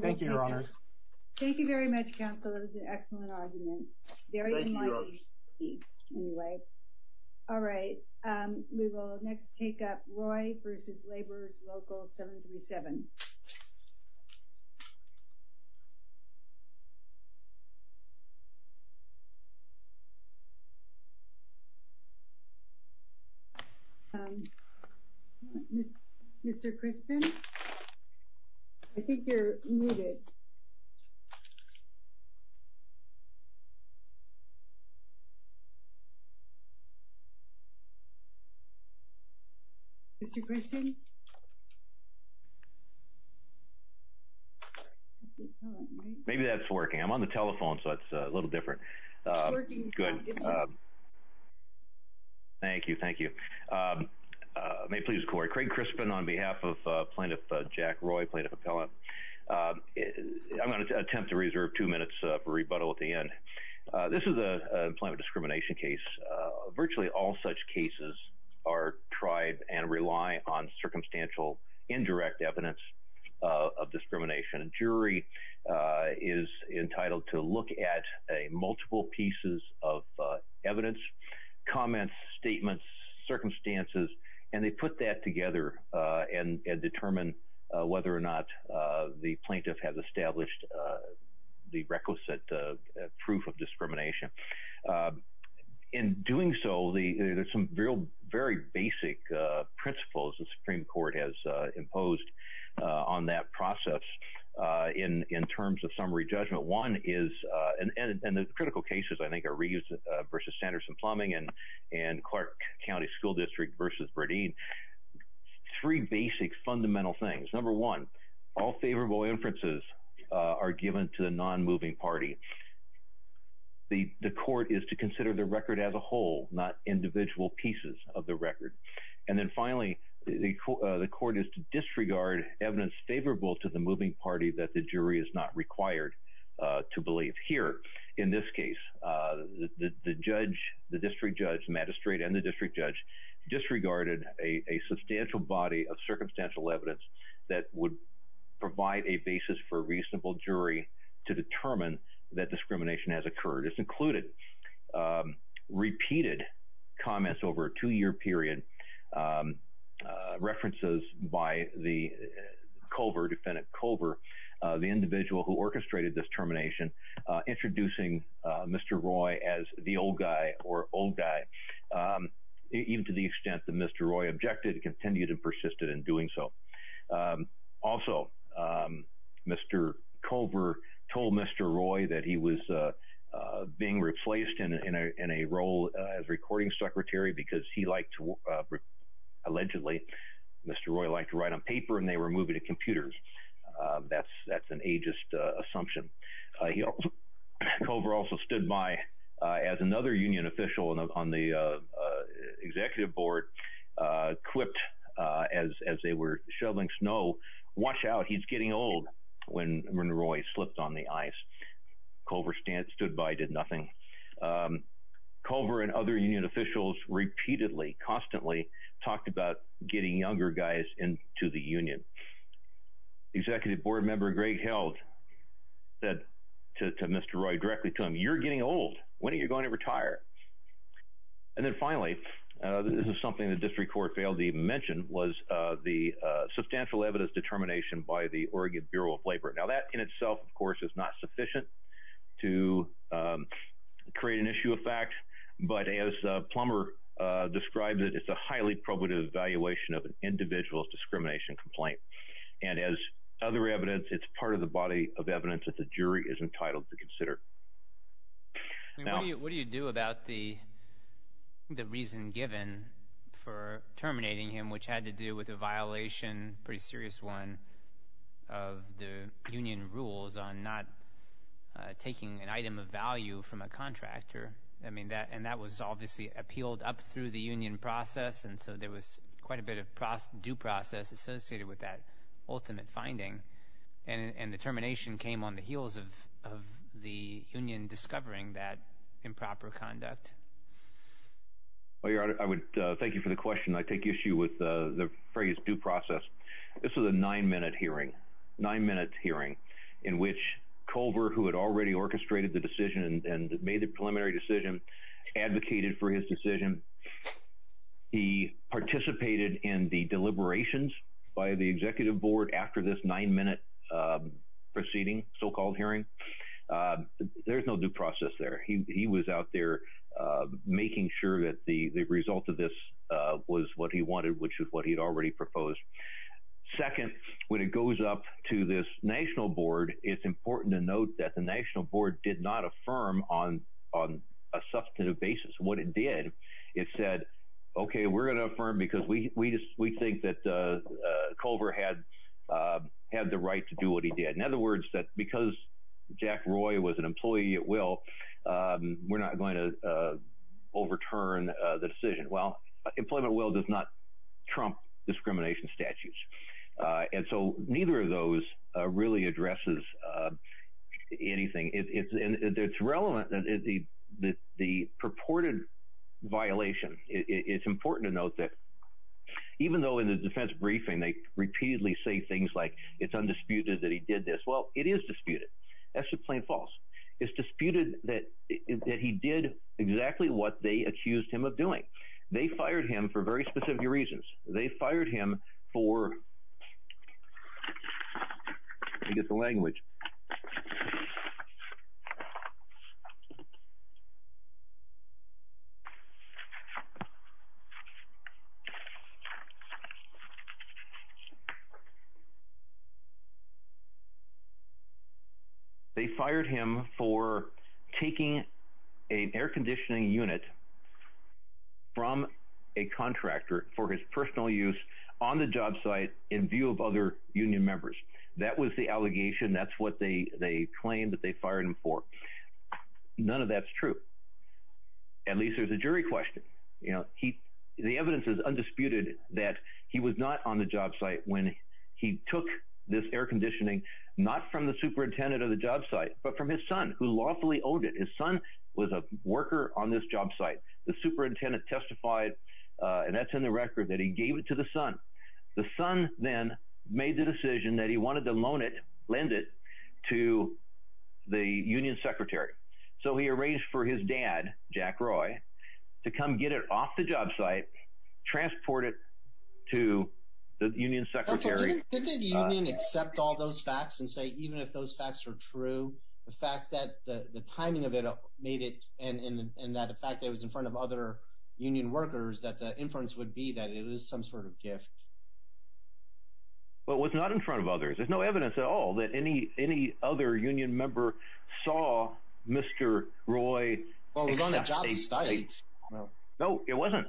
Thank you, Your Honors. Thank you very much, counsel. That was an excellent argument. Thank you, Your Honors. Anyway, all right, we will next take up Roy v. Laborer's Local 737. Mr. Crispin? I think you're muted. Mr. Crispin? Maybe that's working. I'm on the telephone, so it's a little different. It's working now, isn't it? Good. Thank you. Thank you. May it please, Corey. Craig Crispin on behalf of Plaintiff Jack Roy, Plaintiff Appellant. I'm going to attempt to reserve two minutes for rebuttal at the end. This is a employment discrimination case. Virtually all such cases are tried and rely on circumstantial indirect evidence of discrimination. A jury is entitled to look at multiple pieces of evidence, comments, statements, circumstances, and they put that together and determine whether or not the plaintiff has established the requisite proof of discrimination. In doing so, there's some very basic principles the Supreme Court has imposed on that process in terms of summary judgment. One is, and the critical cases, I think, are Reeves v. Sanderson-Plumbing and Clark County School District v. Bradeen. Three basic fundamental things. Number one, all favorable inferences are given to the non-moving party. The court is to consider the record as a whole, not individual pieces of the record. And then finally, the court is to disregard evidence favorable to the moving party that the jury is not required to believe. Here, in this case, the judge, the district judge, magistrate, and the district judge disregarded a substantial body of circumstantial evidence that would provide a basis for a reasonable jury to determine that discrimination has occurred. It's included repeated comments over a two-year period, references by the COVR, defendant COVR, the individual who orchestrated this termination, introducing Mr. Roy as the old guy or old guy, even to the extent that Mr. Roy objected and continued and persisted in doing so. Also, Mr. COVR told Mr. Roy that he was being replaced in a role as recording secretary because he liked to, allegedly, Mr. Roy liked to write on paper and they were moving to computers. That's an ageist assumption. COVR also stood by as another union official on the executive board quipped, as they were shoveling snow, watch out, he's getting old, when Roy slipped on the ice. COVR stood by, did nothing. COVR and other union officials repeatedly, constantly, talked about getting younger guys into the union. The executive board member, Greg Held, said to Mr. Roy directly, you're getting old, when are you going to retire? And then finally, this is something the district court failed to even mention, was the substantial evidence determination by the Oregon Bureau of Labor. Now, that in itself, of course, is not sufficient to create an issue of fact, but as Plummer described it, it's a highly probative evaluation of an individual's discrimination complaint. And as other evidence, it's part of the body of evidence that the jury is entitled to consider. What do you do about the reason given for terminating him, which had to do with a violation, a pretty serious one, of the union rules on not taking an item of value from a contractor? I mean, and that was obviously appealed up through the union process, and so there was quite a bit of due process associated with that ultimate finding. And the termination came on the heels of the union discovering that improper conduct. Well, Your Honor, I would thank you for the question. I take issue with the phrase due process. This was a nine-minute hearing, nine-minute hearing, in which Culver, who had already orchestrated the decision and made the preliminary decision, advocated for his decision. He participated in the deliberations by the executive board after this nine-minute proceeding, so-called hearing. There's no due process there. He was out there making sure that the result of this was what he wanted, which is what he had already proposed. Second, when it goes up to this national board, it's important to note that the national board did not affirm on a substantive basis what it did. It said, okay, we're going to affirm because we think that Culver had the right to do what he did. In other words, because Jack Roy was an employee at will, we're not going to overturn the decision. Employment at will does not trump discrimination statutes, and so neither of those really addresses anything. It's relevant that the purported violation, it's important to note that even though in the defense briefing they repeatedly say things like it's undisputed that he did this. Well, it is disputed. That's just plain false. It's disputed that he did exactly what they accused him of doing. They fired him for very specific reasons. They fired him for, let me get the language. They fired him for taking an air conditioning unit from a contractor for his personal use on the job site in view of other union members. That was the allegation. That's what they claimed that they fired him for. None of that's true. At least there's a jury question. The evidence is undisputed that he was not on the job site when he took this air conditioning, not from the superintendent of the job site, but from his son who lawfully owed it. His son was a worker on this job site. The superintendent testified, and that's in the record, that he gave it to the son. The son then made the decision that he wanted to loan it, lend it to the union secretary. So he arranged for his dad, Jack Roy, to come get it off the job site, transport it to the union secretary. So didn't the union accept all those facts and say even if those facts were true, the fact that the timing of it made it and that the fact that it was in front of other union workers that the inference would be that it was some sort of gift? Well, it was not in front of others. There's no evidence at all that any other union member saw Mr. Roy. Well, it was on a job site. No, it wasn't.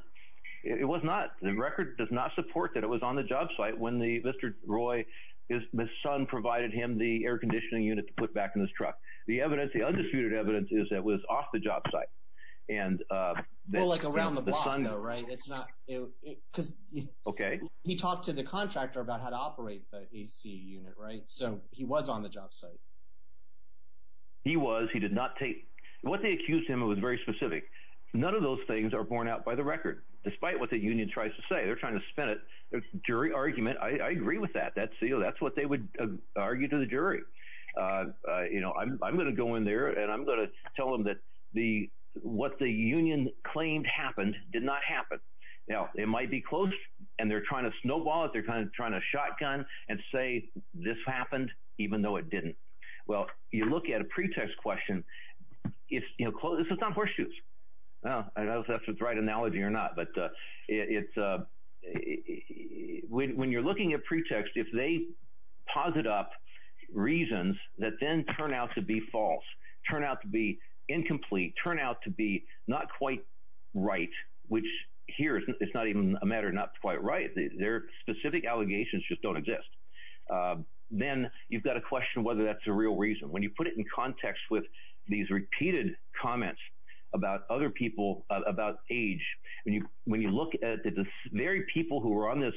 It was not. The record does not support that it was on the job site when Mr. Roy, his son, provided him the air conditioning unit to put back in his truck. The evidence, the undisputed evidence, is that it was off the job site. Well, like around the block though, right? Because he talked to the contractor about how to operate the AC unit, right? So he was on the job site. He was. He did not take – what they accused him of was very specific. None of those things are borne out by the record despite what the union tries to say. They're trying to spin a jury argument. I agree with that. That's what they would argue to the jury. I'm going to go in there and I'm going to tell them that what the union claimed happened did not happen. Now, it might be close, and they're trying to snowball it. They're kind of trying to shotgun and say this happened even though it didn't. Well, you look at a pretext question. This is not horseshoes. I don't know if that's the right analogy or not, but it's – when you're looking at pretext, if they posit up reasons that then turn out to be false, turn out to be incomplete, turn out to be not quite right, which here it's not even a matter of not quite right. Their specific allegations just don't exist. Then you've got to question whether that's a real reason. When you put it in context with these repeated comments about other people, about age, when you look at the very people who were on this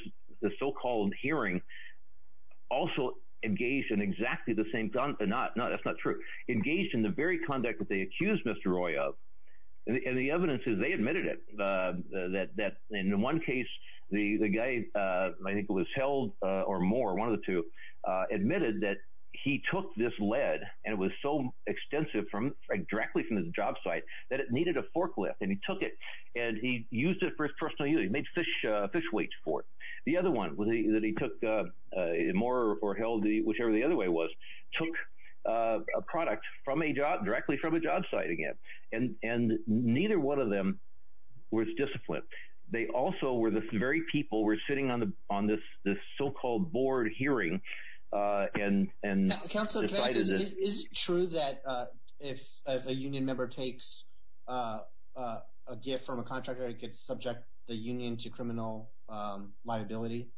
so-called hearing also engaged in exactly the same – no, that's not true – engaged in the very conduct that they accused Mr. Roy of, and the evidence is they admitted it, that in one case the guy, I think it was Held or Moore, one of the two, admitted that he took this lead and it was so extensive from – that it needed a forklift, and he took it and he used it for his personal use. He made fish weights for it. The other one that he took, Moore or Held, whichever the other way was, took a product directly from a job site again, and neither one of them was disciplined. They also were the very people who were sitting on this so-called board hearing and – Counsel, is it true that if a union member takes a gift from a contractor, it could subject the union to criminal liability?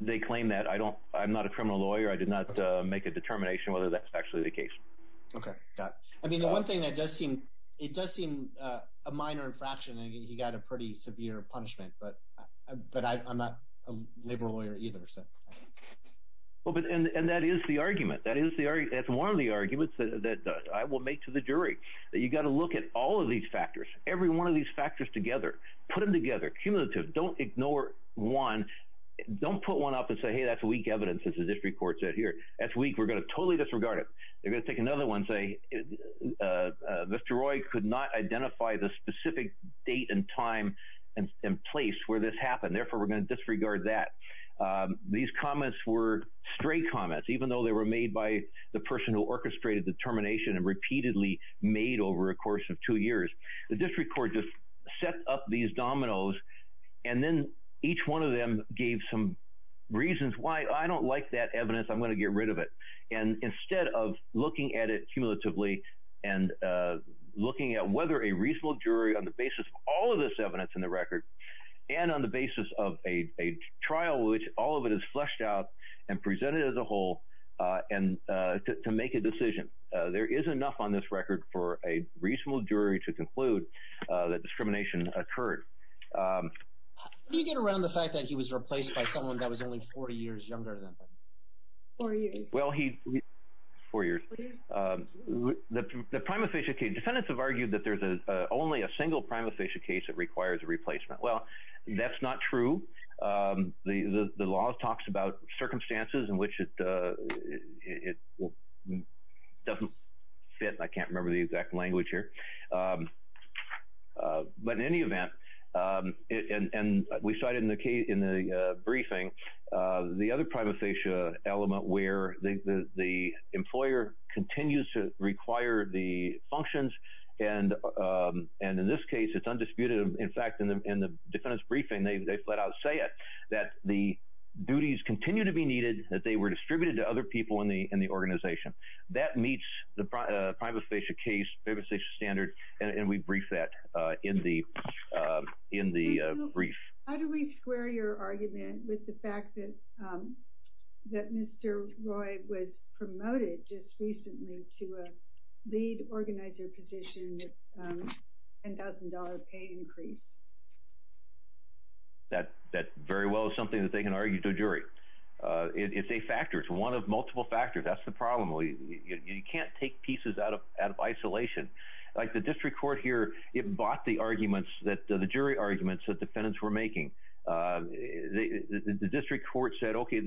They claim that. I don't – I'm not a criminal lawyer. I did not make a determination whether that's actually the case. Okay, got it. I mean the one thing that does seem – it does seem a minor infraction. He got a pretty severe punishment, but I'm not a labor lawyer either. And that is the argument. That is the – that's one of the arguments that I will make to the jury. You've got to look at all of these factors, every one of these factors together. Put them together, cumulative. Don't ignore one. Don't put one up and say, hey, that's weak evidence, as the district court said here. That's weak. We're going to totally disregard it. They're going to take another one and say, Mr. Roy could not identify the specific date and time and place where this happened. Therefore, we're going to disregard that. These comments were stray comments, even though they were made by the person who orchestrated the termination and repeatedly made over a course of two years. The district court just set up these dominoes, and then each one of them gave some reasons why I don't like that evidence, I'm going to get rid of it. And instead of looking at it cumulatively and looking at whether a reasonable jury on the basis of all of this evidence in the record and on the basis of a trial in which all of it is fleshed out and presented as a whole to make a decision, there is enough on this record for a reasonable jury to conclude that discrimination occurred. How do you get around the fact that he was replaced by someone that was only 40 years younger than him? Four years. Well, he... four years. The primosthesia case, defendants have argued that there's only a single primosthesia case that requires a replacement. Well, that's not true. The law talks about circumstances in which it doesn't fit, and I can't remember the exact language here. But in any event, and we cited in the briefing, the other primosthesia element where the employer continues to require the functions, and in this case, it's undisputed. In fact, in the defendant's briefing, they flat out say it, that the duties continue to be needed, that they were distributed to other people in the organization. That meets the primosthesia case, primosthesia standard, and we brief that in the brief. How do we square your argument with the fact that Mr. Roy was promoted just recently to a lead organizer position with a $10,000 pay increase? That very well is something that they can argue to a jury. It's a factor. It's one of multiple factors. That's the problem. You can't take pieces out of isolation. Like the district court here, it bought the arguments, the jury arguments that defendants were making. The district court said, okay,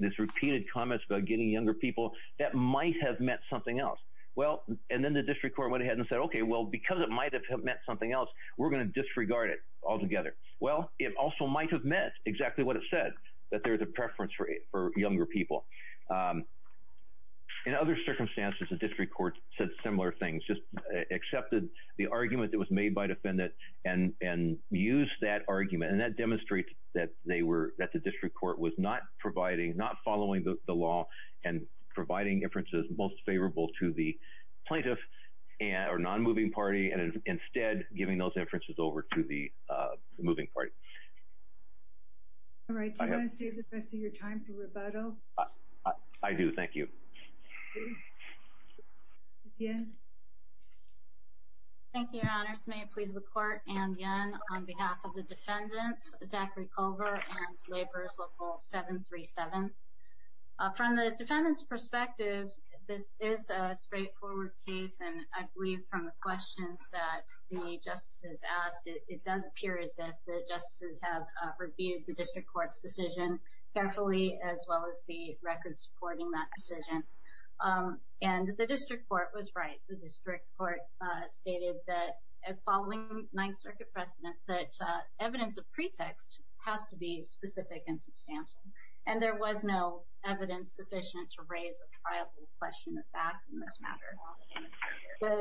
this repeated comments about getting younger people, that might have meant something else. Well, and then the district court went ahead and said, okay, well, because it might have meant something else, we're going to disregard it altogether. Well, it also might have meant exactly what it said, that there's a preference for younger people. In other circumstances, the district court said similar things, just accepted the argument that was made by defendant and used that argument, and that demonstrates that the district court was not following the law and providing inferences most favorable to the plaintiff or non-moving party and instead giving those inferences over to the moving party. All right. Do you want to save the rest of your time for rebuttal? I do. Thank you. Ms. Yen. Thank you, Your Honors. May it please the court, Anne Yen on behalf of the defendants, Zachary Culver and Laborers Local 737. From the defendant's perspective, this is a straightforward case, and I believe from the questions that the justices asked, it does appear as if the justices have reviewed the district court's decision carefully, as well as the records supporting that decision, and the district court was right. The district court stated that following Ninth Circuit precedent that evidence of pretext has to be specific and substantial, and there was no evidence sufficient to raise a triable question of fact in this matter.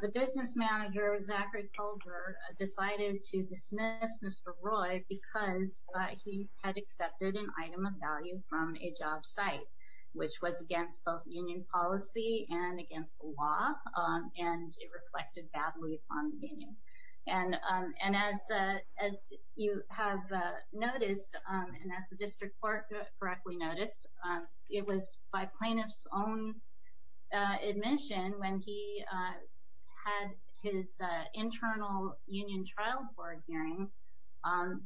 The business manager, Zachary Culver, decided to dismiss Mr. Roy because he had accepted an item of value from a job site, which was against both union policy and against the law, and it reflected badly upon the union. And as you have noticed, and as the district court correctly noticed, it was by plaintiff's own admission when he had his internal union trial board hearing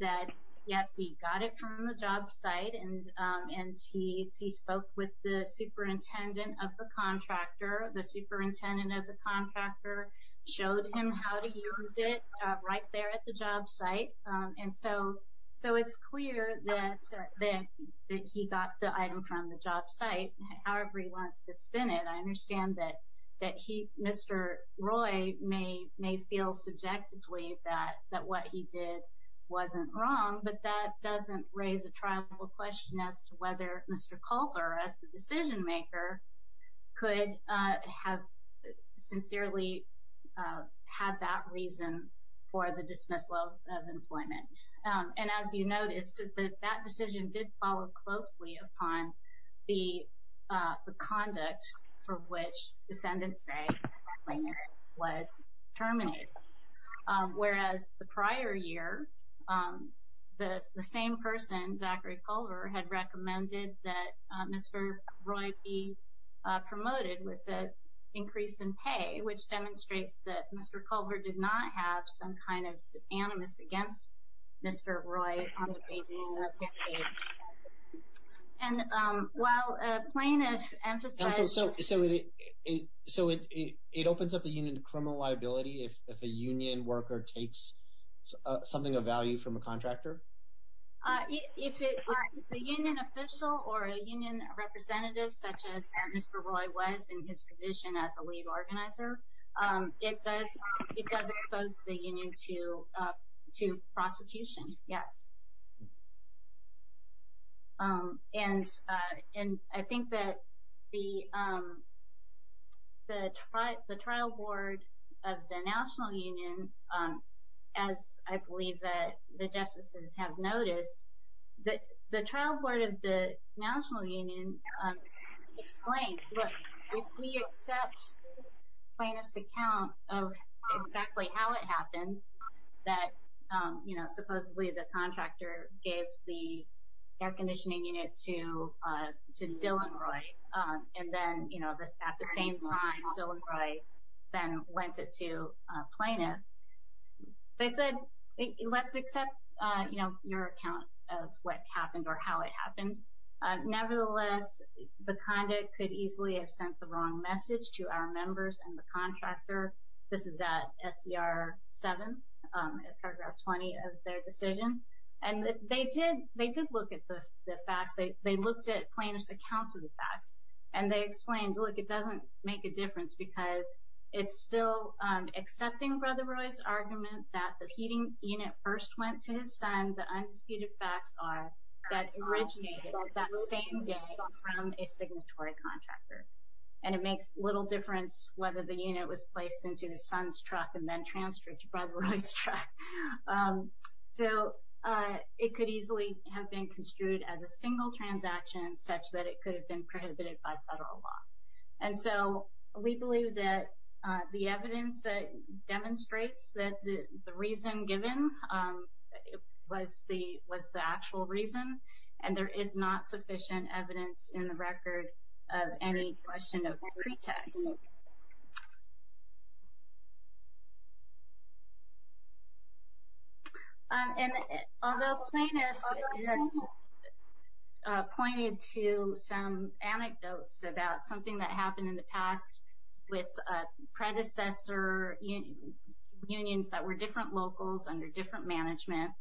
that, yes, he got it from the job site, and he spoke with the superintendent of the contractor. The superintendent of the contractor showed him how to use it right there at the job site, and so it's clear that he got the item from the job site. However he wants to spin it, I understand that Mr. Roy may feel subjectively that what he did wasn't wrong, but that doesn't raise a triable question as to whether Mr. Culver, as the decision maker, could have sincerely had that reason for the dismissal of employment. And as you noticed, that decision did follow closely upon the conduct for which defendants say the plaintiff was terminated. Whereas the prior year, the same person, Zachary Culver, had recommended that Mr. Roy be promoted with an increase in pay, which demonstrates that Mr. Culver did not have some kind of animus against Mr. Roy on the basis of his age. And while plaintiff emphasized... the union worker takes something of value from a contractor? If it's a union official or a union representative, such as Mr. Roy was in his position as the lead organizer, it does expose the union to prosecution, yes. And I think that the trial board of the National Union, as I believe that the justices have noticed, the trial board of the National Union explains, look, if we accept the plaintiff's account of exactly how it happened, that supposedly the contractor gave the air conditioning unit to Dillon Roy, and then at the same time Dillon Roy then lent it to a plaintiff, they said, let's accept your account of what happened or how it happened. Nevertheless, the conduct could easily have sent the wrong message to our members and the contractor. This is at SCR 7, paragraph 20 of their decision. And they did look at the facts. They looked at plaintiff's account of the facts, and they explained, look, it doesn't make a difference because it's still accepting Brother Roy's argument that the heating unit first went to his son. The undisputed facts are that originated that same day from a signatory contractor. And it makes little difference whether the unit was placed into his son's truck and then transferred to Brother Roy's truck. So it could easily have been construed as a single transaction, such that it could have been prohibited by federal law. And so we believe that the evidence that demonstrates that the reason given was the actual reason, and there is not sufficient evidence in the record of any question of pretext. And although plaintiff has pointed to some anecdotes about something that happened in the past with predecessor unions that were different locals under different management,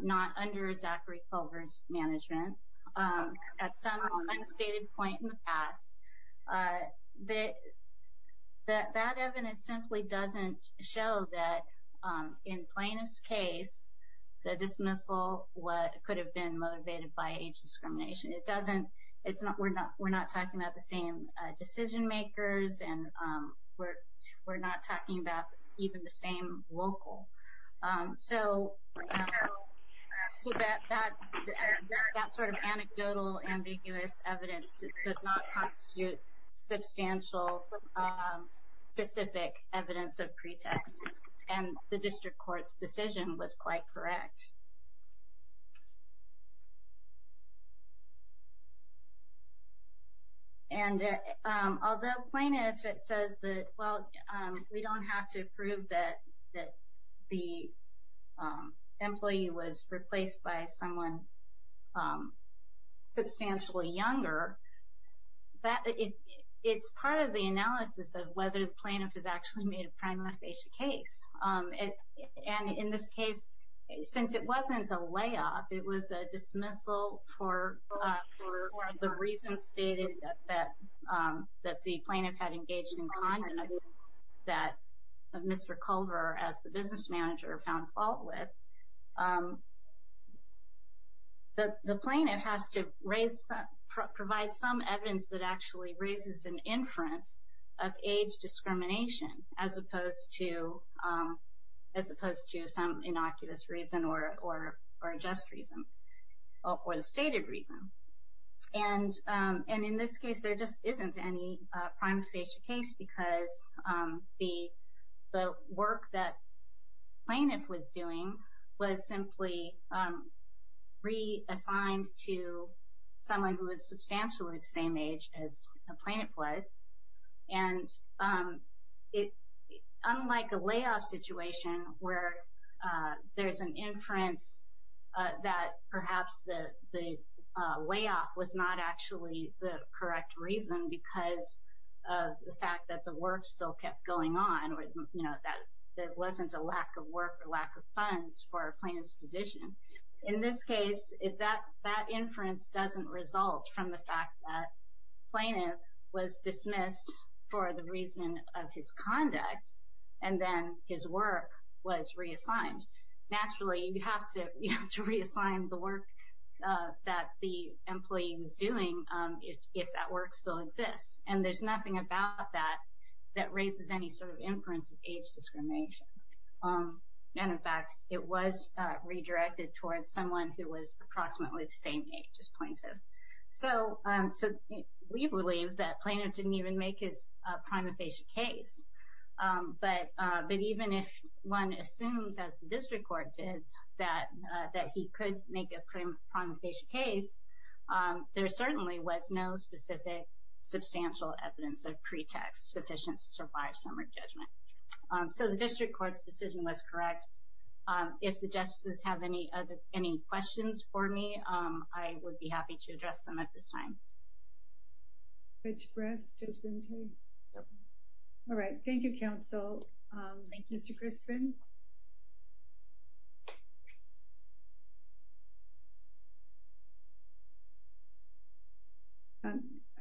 not under Zachary Culver's management, at some unstated point in the past, that evidence simply doesn't show that in plaintiff's case, the dismissal could have been motivated by age discrimination. We're not talking about the same decision makers, and we're not talking about even the same local. So that sort of anecdotal ambiguous evidence does not constitute substantial specific evidence of pretext. And the district court's decision was quite correct. And although plaintiff says that, well, we don't have to prove that the employee was replaced by someone substantially younger, it's part of the analysis of whether the plaintiff has actually made a prime motivation case. And in this case, since it wasn't a layoff, it was a dismissal for the reasons stated that the plaintiff had engaged in conduct that Mr. Culver, as the business manager, found fault with, the plaintiff has to provide some evidence that actually raises an inference of age discrimination as opposed to some innocuous reason or a just reason or a stated reason. And in this case, there just isn't any prime motivation case because the work that plaintiff was doing was simply reassigned to someone who was substantially the same age as the plaintiff was, and unlike a layoff situation where there's an inference that perhaps the layoff was not actually the correct reason because of the fact that the work still kept going on or that there wasn't a lack of work or lack of funds for a plaintiff's position, in this case, that inference doesn't result from the fact that the plaintiff was dismissed for the reason of his conduct and then his work was reassigned. Naturally, you have to reassign the work that the employee was doing if that work still exists, and there's nothing about that that raises any sort of inference of age discrimination. And, in fact, it was redirected towards someone who was approximately the same age as plaintiff. So we believe that plaintiff didn't even make his prime motivation case, but even if one assumes, as the district court did, that he could make a prime motivation case, there certainly was no specific substantial evidence of pretext sufficient to survive summary judgment. So the district court's decision was correct. If the justices have any questions for me, I would be happy to address them at this time. All right. Thank you, counsel. Mr. Crispin?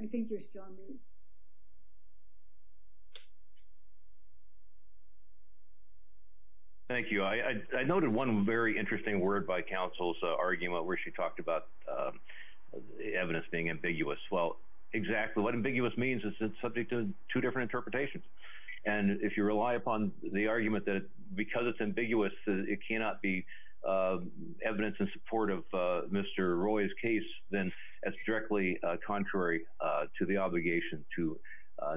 I think you're still on mute. Thank you. I noted one very interesting word by counsel's argument where she talked about evidence being ambiguous. Well, exactly what ambiguous means is it's subject to two different interpretations. And if you rely upon the argument that because it's ambiguous, it cannot be evidence in support of Mr. Roy's case, then it's directly contrary to the obligation to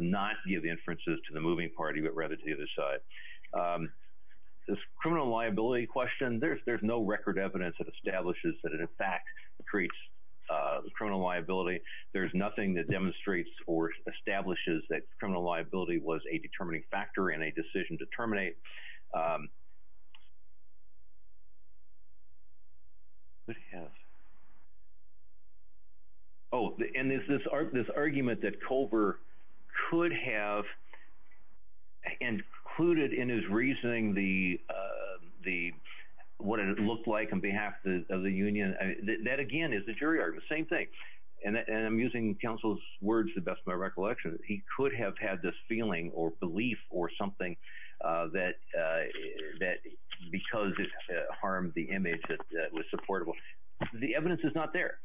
not give the inferences to the moving party, but rather to the other side. This criminal liability question, there's no record evidence that establishes that it, in fact, treats criminal liability. There's nothing that demonstrates or establishes that criminal liability was a determining factor in a decision to terminate. Oh, and there's this argument that Culver could have included in his reasoning what it looked like on behalf of the union. That, again, is a jury argument. Same thing. And I'm using counsel's words to the best of my recollection. He could have had this feeling or belief or something that because it harmed the image that was supportable. The evidence is not there.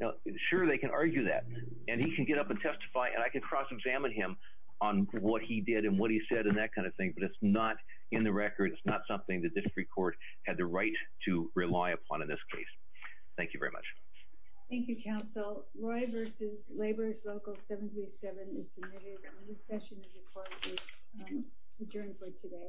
Now, sure, they can argue that, and he can get up and testify, and I can cross-examine him on what he did and what he said and that kind of thing, but it's not in the record. It's not something that this Supreme Court had the right to rely upon in this case. Thank you very much. Thank you, counsel. Roy v. Laborers Local 737 is submitted. And this session of the court is adjourned for today.